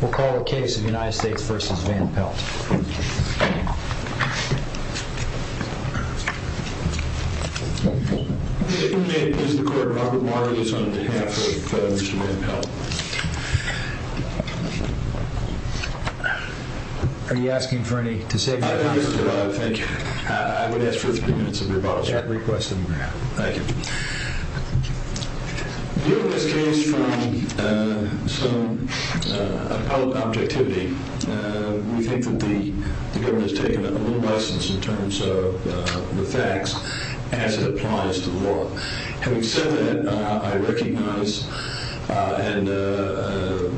We'll call the case of the United States v. Van Pelt. Mr. Court, Robert Marley is on behalf of Mr. Van Pelt. Are you asking for any, to save your comments? Yes, thank you. I would ask for three minutes of rebuttal, sir. Thank you. Viewing this case from some appellate objectivity, we think that the government has taken a little less in terms of the facts as it applies to the law. Having said that, I recognize the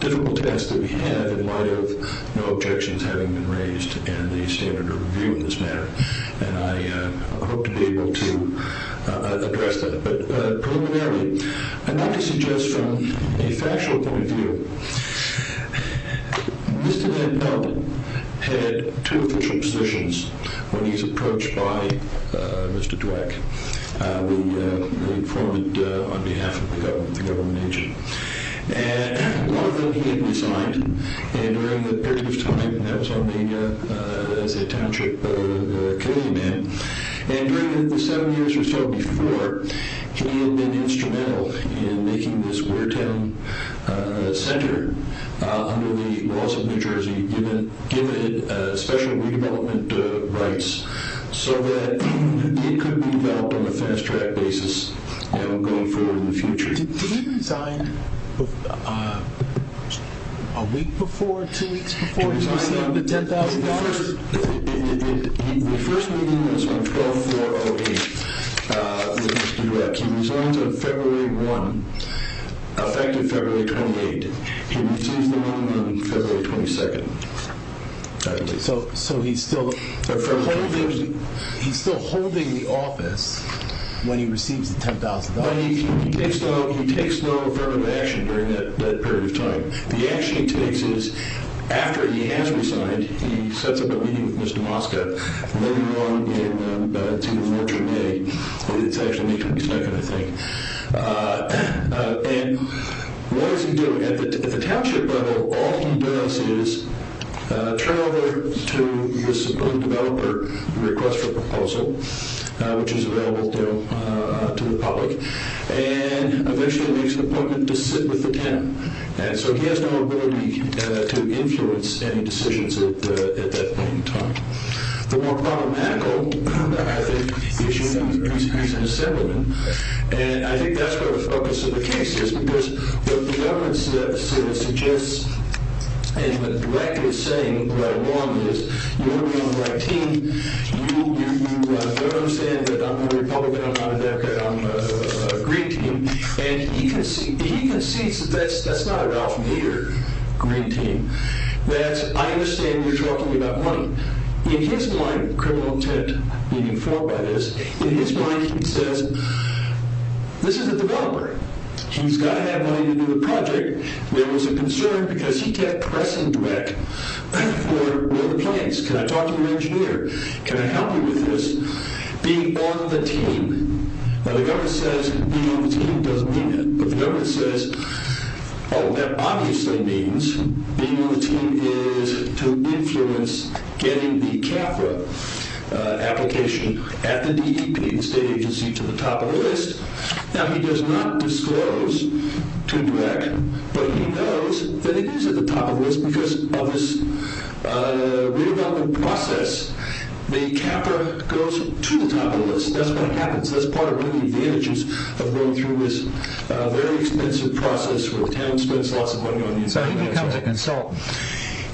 difficult test that we have in light of no objections having been raised and the standard of review in this matter. And I hope to be able to address that. But preliminarily, I'd like to suggest from a factual point of view, Mr. Van Pelt had two official positions when he was approached by Mr. Dweck. We informed on behalf of the government agent. One of them he had resigned. And during the period of time that I was on as a township committee man, and during the seven years or so before, he had been instrumental in making this Wartown Center under the laws of New Jersey give it special redevelopment rights so that it could be developed on a fast-track basis going forward in the future. Did he resign a week before, two weeks before he received the $10,000? The first meeting was on 12-4-08 with Mr. Dweck. He resigned on February 1, effective February 28. He received the money on February 22. So he's still holding the office when he receives the $10,000. He takes no affirmative action during that period of time. The action he takes is after he has resigned, he sets up a meeting with Mr. Mosca later on. It's either March or May. It's actually May 22, I think. And what does he do? At the township level, all he does is turn over to the support developer a request for a proposal, which is available to the public, and eventually makes an appointment to sit with the town. And so he has no ability to influence any decisions at that point in time. The more problematical, I think, issue is he's an assemblyman, and I think that's where the focus of the case is because what the government suggests and what Dweck is saying, what I want is you want to be on my team, you don't understand that I'm a Republican, I'm not a Democrat, I'm a Green team. And he concedes that that's not a Ralph Maeder Green team, that I understand you're talking about money. In his mind, criminal intent being informed by this, in his mind he says this is a developer. He's got to have money to do the project. There was a concern because he kept pressing Dweck for the plans. Can I talk to your engineer? Can I help you with this? Being on the team. Now the government says being on the team doesn't mean it, but the government says, oh, that obviously means being on the team is to influence getting the CAFRA application at the DEP, the state agency, to the top of the list. Now he does not disclose to Dweck, but he knows that he is at the top of the list because of this redevelopment process. The CAFRA goes to the top of the list. That's what happens. That's part of the advantages of going through this very expensive process where the town spends lots of money on the inside. So he becomes a consultant.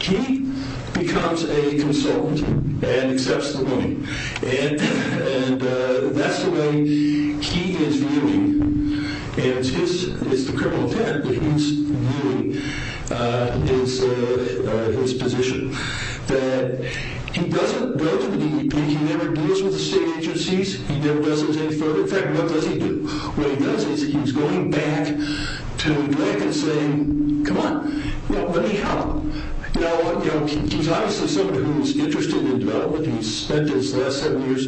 He becomes a consultant and accepts the money. And that's the way he is viewing, and it's the criminal patent, but he's viewing his position, that he doesn't go to the DEP. He never deals with the state agencies. He never does anything further. In fact, what does he do? What he does is he's going back to Dweck and saying, come on, let me help. Now he's obviously somebody who's interested in development. He's spent his last seven years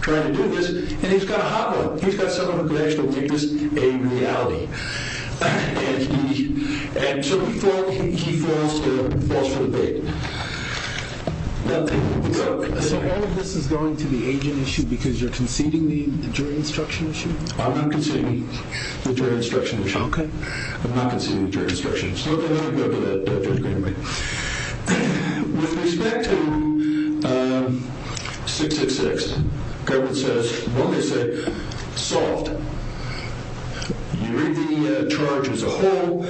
trying to do this, and he's got a hotline. He's got someone who can actually make this a reality. And so he falls for the bait. So all of this is going to the agent issue because you're conceding the jury instruction issue? I'm not conceding the jury instruction issue. Okay. I'm not conceding the jury instruction issue. Okay. With respect to 666, the government says, well, they say, solved. You read the charge as a whole.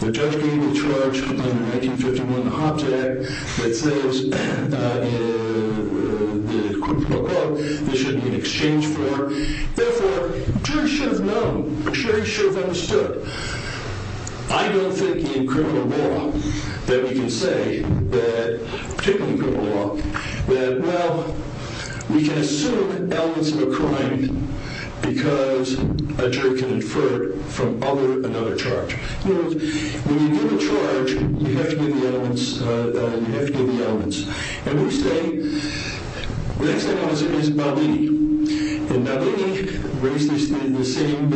The judge gave the charge under 1951, the Hobbs Act, that says, quote, unquote, this should be an exchange for. Therefore, the jury should have known. The jury should have understood. I don't think in criminal law that we can say that, particularly in criminal law, that, well, we can assume elements of a crime because a jury can infer it from other, another charge. In other words, when you give a charge, you have to know the elements. You have to know the elements. And we say, the next element is Babini. And Babini raised the same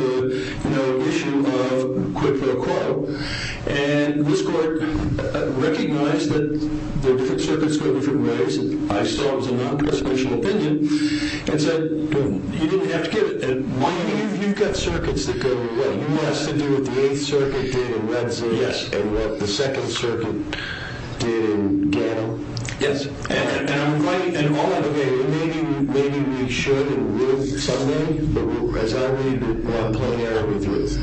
issue of, quote, unquote. And this court recognized that the different circuits go different ways. I saw it as a non-presumption opinion and said, you didn't have to give it. And you've got circuits that go, what? You want us to do what the Eighth Circuit did in Red Zinn and what the Second Circuit did in Gallup? Yes. And maybe we should in Ruth someday, but as I read it, we're not playing out with Ruth.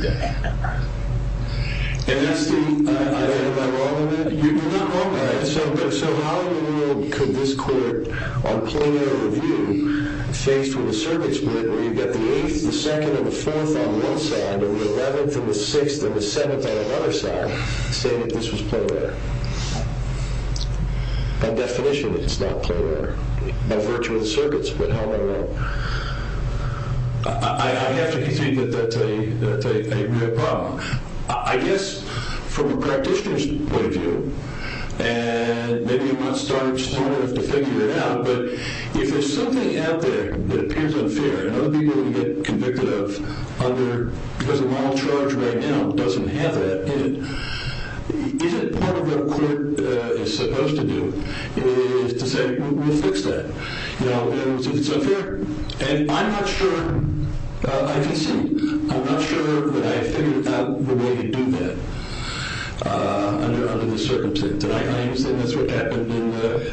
Am I wrong on that? You're not wrong on that. So how in the world could this court, on playing out of review, faced with a circuit where you've got the 8th, the 2nd, and the 4th on one side, and the 11th, and the 6th, and the 7th on another side, say that this was played out? By definition, it's not played out. By virtue of the circuits, but how in the world? I have to concede that that's a real problem. I guess from a practitioner's point of view, and maybe I'm not smart enough to figure it out, but if there's something out there that appears unfair, and other people would get convicted of under, because the model charge right now doesn't have that in it, isn't part of what a court is supposed to do, is to say, we'll fix that. Now, if it's unfair, and I'm not sure, I can see, I'm not sure that I figured out the way to do that under the circumstance, and I understand that's what happened in the, what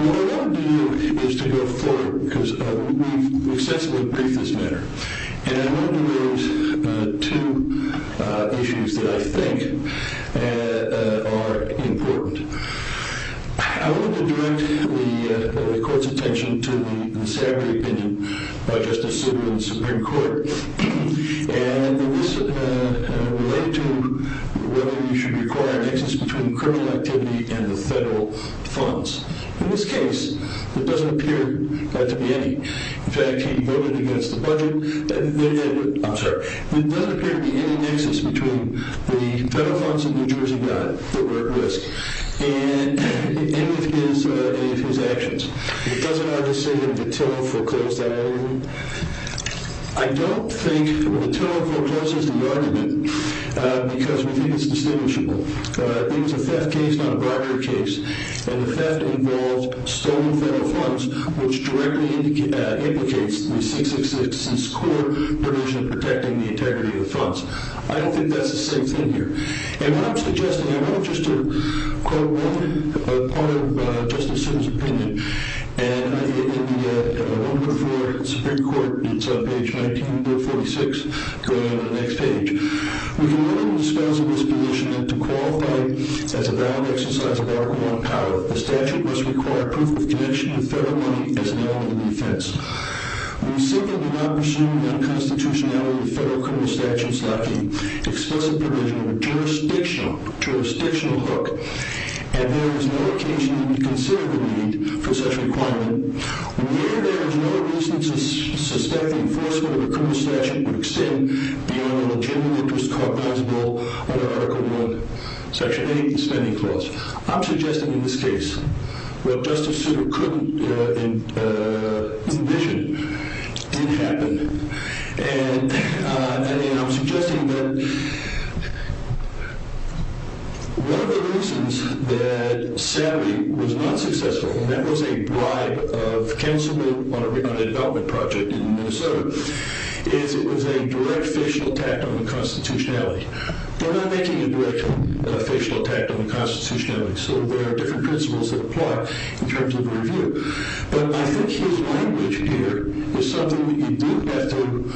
I want to do is to go forward, because we've extensively briefed this matter, and I want to raise two issues that I think are important. I want to direct the court's attention to the insanity opinion by Justice Sotomayor in the Supreme Court, and this relates to whether you should require an excess between criminal activity and the federal funds. In this case, it doesn't appear to be any. In fact, he voted against the budget. I'm sorry. It doesn't appear to be any excess between the federal funds that New Jersey got that were at risk, and any of his actions. It doesn't, obviously, have the tiller foreclosed on anyone. I don't think the tiller forecloses the argument, because we need its distinguishing. It's a theft case, not a bribery case, and the theft involves stolen federal funds, which directly implicates the 666's core provision of protecting the integrity of the funds. I don't think that's the same thing here. And what I'm suggesting, I want just to quote one part of Justice Sotomayor's opinion, and I get it in the 104 in the Supreme Court, and it's on page 19, book 46, going on to the next page. We can literally dispose of this position to qualify it as a valid exercise of our core power. The statute must require proof of connection to federal money as an element of defense. When we simply do not presume that a constitutionality of the federal criminal statute is lacking, explicit provision of a jurisdictional hook, and there is no occasion that we consider the need for such a requirement, when we hear there is no reason to suspect enforcement of a criminal statute would extend beyond a legitimate, justifiable under Article I, Section 8 of the Spending Clause, I'm suggesting in this case what Justice Souter couldn't envision did happen, and I'm suggesting that one of the reasons that SABI was not successful, and that was a bribe of counsel on a development project in Minnesota, is it was a direct facial attack on the constitutionality. They're not making a direct facial attack on the constitutionality, so there are different principles that apply in terms of the review. But I think his language here is something we do have to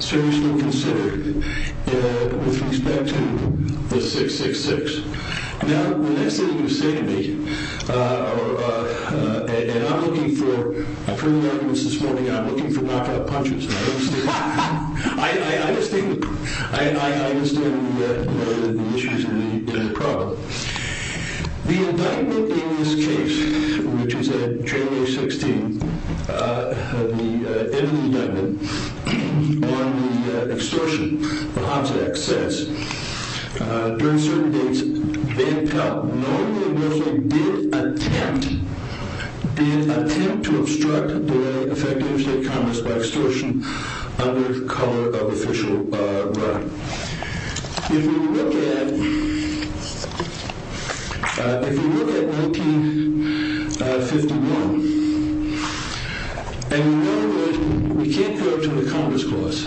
seriously consider with respect to the 666. Now, the next thing you're going to say to me, and I'm looking for further arguments this morning, I'm looking for knockout punches. I understand the issues and the problem. The indictment in this case, which is at January 16, the end of the indictment on extortion, the Hobbs Act, says, during certain dates, Van Pelt, knowingly or nothingly, did attempt to obstruct the effectiveness of state commerce by extortion under color of official right. If we look at 1951, and we know that we can't go to the Commerce Clause,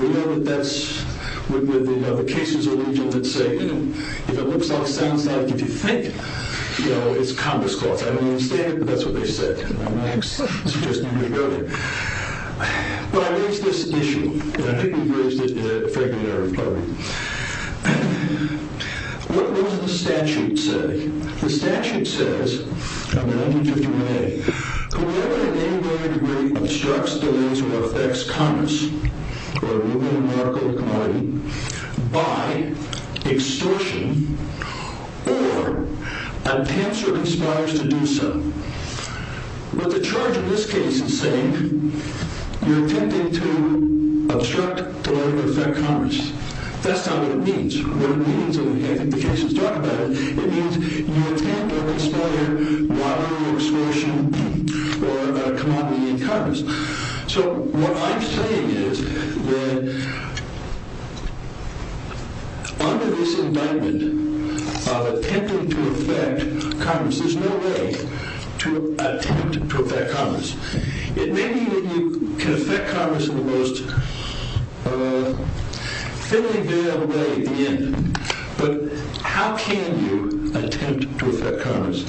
we know that that's with the cases that say, if it looks like, sounds like, if you think, it's Commerce Clause. I don't understand it, but that's what they say. I'm not suggesting you go there. But I raised this issue, and I think we've raised it in a fair bit of a way. What does the statute say? The statute says, from 1951A, whoever in any way, degree, obstructs, delays, or affects commerce, or a movement, an article, or commodity, by extortion or attempts or conspires to do so. But the charge in this case is saying, you're attempting to obstruct, delay, or affect commerce. That's not what it means. The case is talking about it. It means you attempt or conspire water, or extortion, or a commodity in commerce. So what I'm saying is that under this indictment of attempting to affect commerce, there's no way to attempt to affect commerce. It may be that you can affect commerce in the most thinly veiled way at the end. But how can you attempt to affect commerce?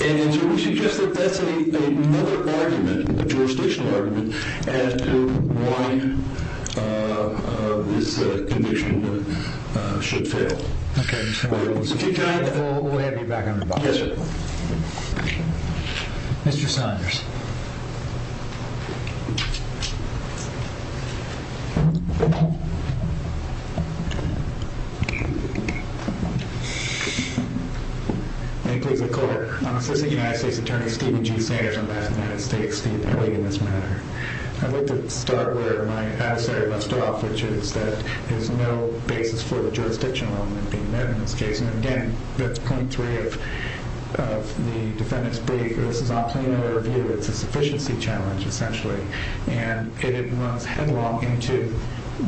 And so we suggest that that's another argument, a jurisdictional argument, as to why this condition should fail. Okay. We'll have you back on the box. Yes, sir. Mr. Saunders. May it please the Court. I'm Assistant United States Attorney Stephen G. Saunders, Ambassador to the United States to the committee on this matter. I'd like to start where my adversary left off, which is that there's no basis for the jurisdictional element being met in this case. And, again, that's point three of the defendant's brief. This is not plain error of view. It's a sufficiency challenge, essentially. And it runs headlong into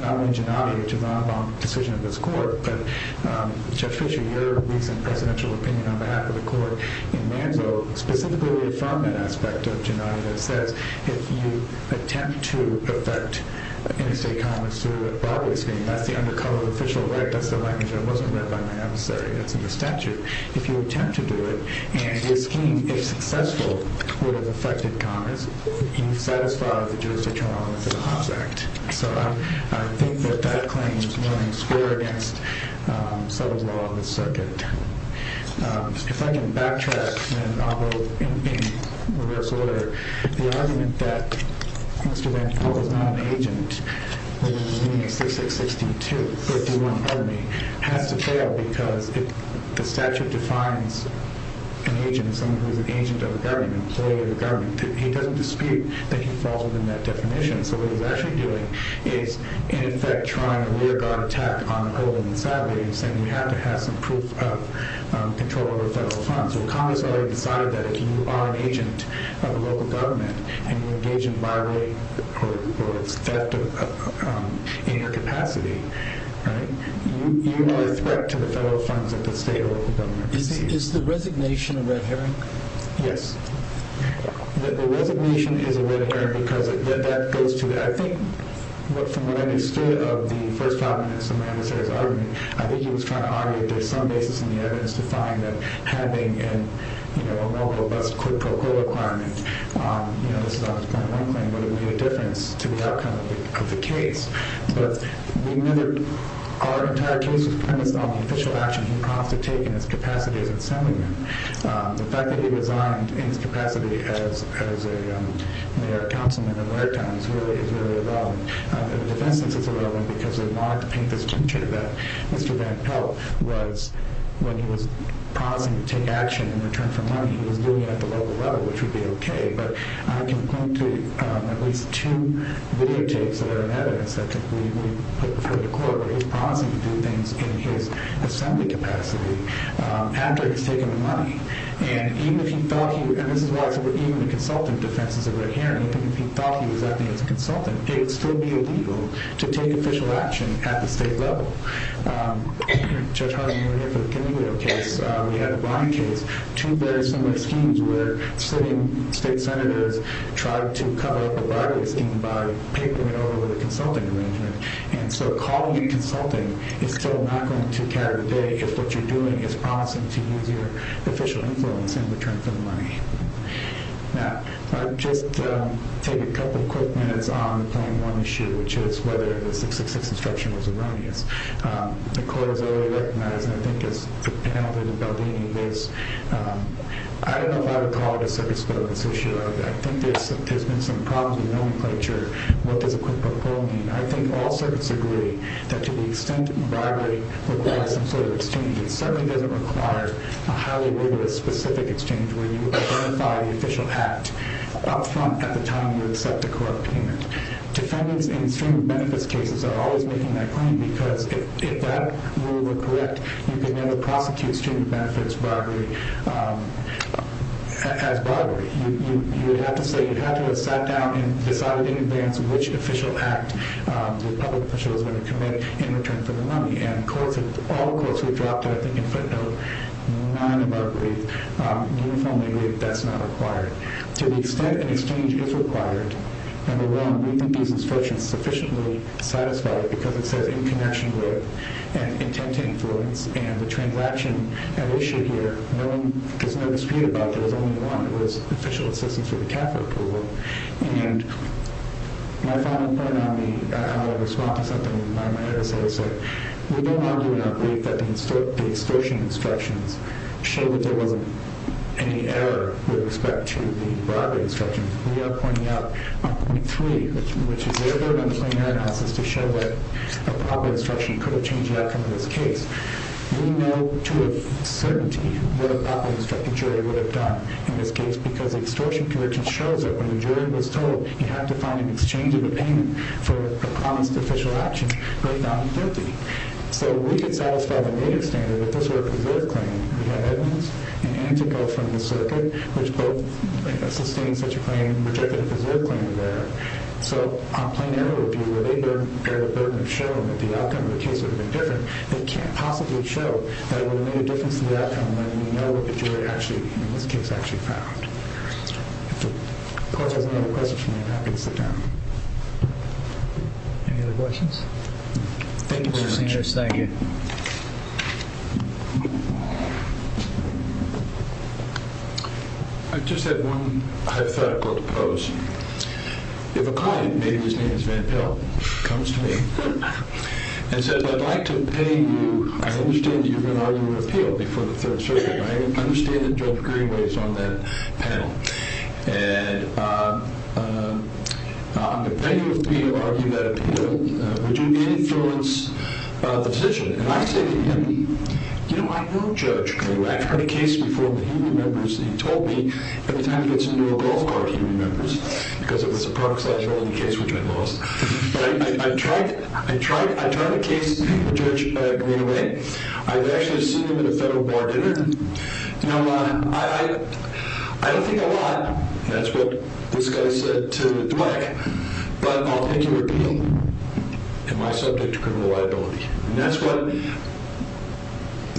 not only Gennady, which is an outlawed decision of this Court, but, Judge Fischer, your recent presidential opinion on behalf of the Court in Manzo, specifically from that aspect of Gennady, that says if you attempt to affect interstate commerce through a broadway scheme, that's the undercut of official right. That's the language that wasn't read by my adversary. That's in the statute. If you attempt to do it, and your scheme, if successful, would have affected commerce, you've satisfied the jurisdictional element of the Hobbs Act. So I think that that claim is running square against some of the law of the circuit. If I can backtrack, and I'll go in reverse order, the argument that Mr. Van Koppel is not an agent, meaning 6662, 321, pardon me, has to fail because the statute defines an agent as someone who is an agent of the government, employee of the government. He doesn't dispute that he falls within that definition. So what he's actually doing is, in effect, trying to rearguard attack on Olin and Savoy and saying we have to have some proof of control over federal funds. So Congress already decided that if you are an agent of a local government and you engage in bribery or theft in your capacity, you are a threat to the federal funds that the state or local government receives. Is the resignation a red herring? Yes. The resignation is a red herring because that goes to, I think from what I understood of the first five minutes of my adversary's argument, I think he was trying to argue that there's some basis in the evidence to find that having a more robust quid pro quo requirement, you know, this is obviously point one claim, would it make a difference to the outcome of the case. But our entire case was premised on the official action he promised to take in his capacity as assemblyman. The fact that he resigned in his capacity as a mayoral councilman in my time is really a red herring. In this instance, it's a red herring because we wanted to paint this picture that Mr. Van Pelt was, when he was promising to take action in return for money, he was doing it at the local level, which would be okay. But I can point to at least two videotapes that are in evidence that we put before the court where he was promising to do things in his assembly capacity after he's taken the money. And even if he thought he was, and this is why I said even the consultant defense is a red herring, even if he thought he was acting as a consultant, it would still be illegal to take official action at the state level. Judge Hartley, you were here for the Camilo case. We had a Brown case, two very similar schemes where sitting state senators tried to cover up a Barclay scheme by papering it over with a consulting arrangement. And so calling it consulting is still not going to carry the day because what you're doing is promising to use your official influence in return for the money. Now, I'll just take a couple of quick minutes on point one issue, which is whether the 666 instruction was erroneous. The court has already recognized, and I think as the panel did in Valdivia case, I don't know if I would call it a circuits violence issue. I think there's been some problems with nomenclature. What does a quid pro quo mean? I think all circuits agree that to the extent bribery requires some sort of exchange, it certainly doesn't require a highly rigorous specific exchange where you verify the official act up front at the time you accept a court opinion. Defendants in student benefits cases are always making that claim because if that rule were correct, you could never prosecute student benefits bribery as bribery. You would have to have sat down and decided in advance which official act the public official is going to commit in return for the money. And all the courts have dropped it, I think in footnote, nine of our briefs uniformly agree that that's not required. To the extent an exchange is required, number one, we think these instructions sufficiently satisfy it because it says in connection with and intent to influence and the transaction at issue here, there's no dispute about there was only one. It was official assistance with the capital approval. And my final point on how I respond to something that I might have to say is that we don't argue in our brief that the extortion instructions show that there wasn't any error with respect to the bribery instruction. We are pointing out point three, which is they're going to explain their analysis to show that a bribery instruction could have changed the outcome of this case. We know to a certainty what a bribery instruction jury would have done in this case because the extortion conviction shows that when the jury was told, you have to find an exchange of opinion for a promised official action right down to 30. So we could satisfy the native standard that this were a preserved claim. We have evidence and antigo from the circuit, which both sustained such a claim and rejected a preserved claim there. So on plain error review, where they don't bear the burden of showing that the outcome of the case would have been different, they can't possibly show that it would have made a difference to the outcome when we know what the jury actually, in this case, actually found. If the court has any other questions from me, I'm happy to sit down. Any other questions? Thank you, Mr. Sanders. Thank you. I just have one hypothetical to pose. If a client, maybe his name is Van Pelt, comes to me and says, I'd like to pay you. I understand that you're going to argue an appeal before the third circuit. I understand that Judge Greenway is on that panel. And I'm going to pay you if we argue that appeal. Would you be able to influence the decision? And I say to him, you know, I know Judge Greenway. I've heard a case before where he remembers that he told me every time he gets into a golf cart he remembers because it was a proxy case which I lost. But I've tried the case with Judge Greenway. I've actually seen him at a federal board dinner. You know, I don't think a lot, and that's what this guy said to Dweck, but I'll take your appeal. Am I subject to criminal liability? And that's what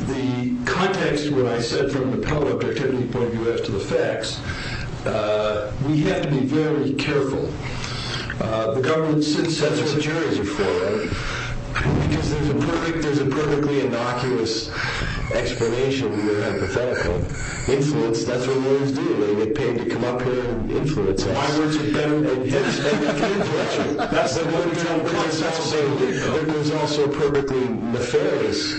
the context of what I said from the Pelt objectivity point of view as to the facts, we have to be very careful. The government censors the juries before, right? Because there's a perfectly innocuous explanation here hypothetically. Influence, that's what lawyers do. They get paid to come up here and influence us. Why would you get paid to influence me? That's what I'm trying to tell you. There's also a perfectly nefarious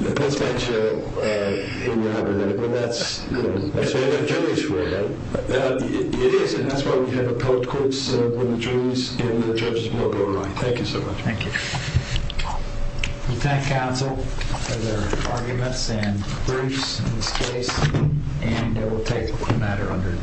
potential in your argument. And that's, you know, I say I've got juries for it, right? It is, and that's why we have appellate courts when the juries and the judges will go around. Thank you so much. Thank you. We thank counsel for their arguments and briefs on this case, and we'll take the matter under advice.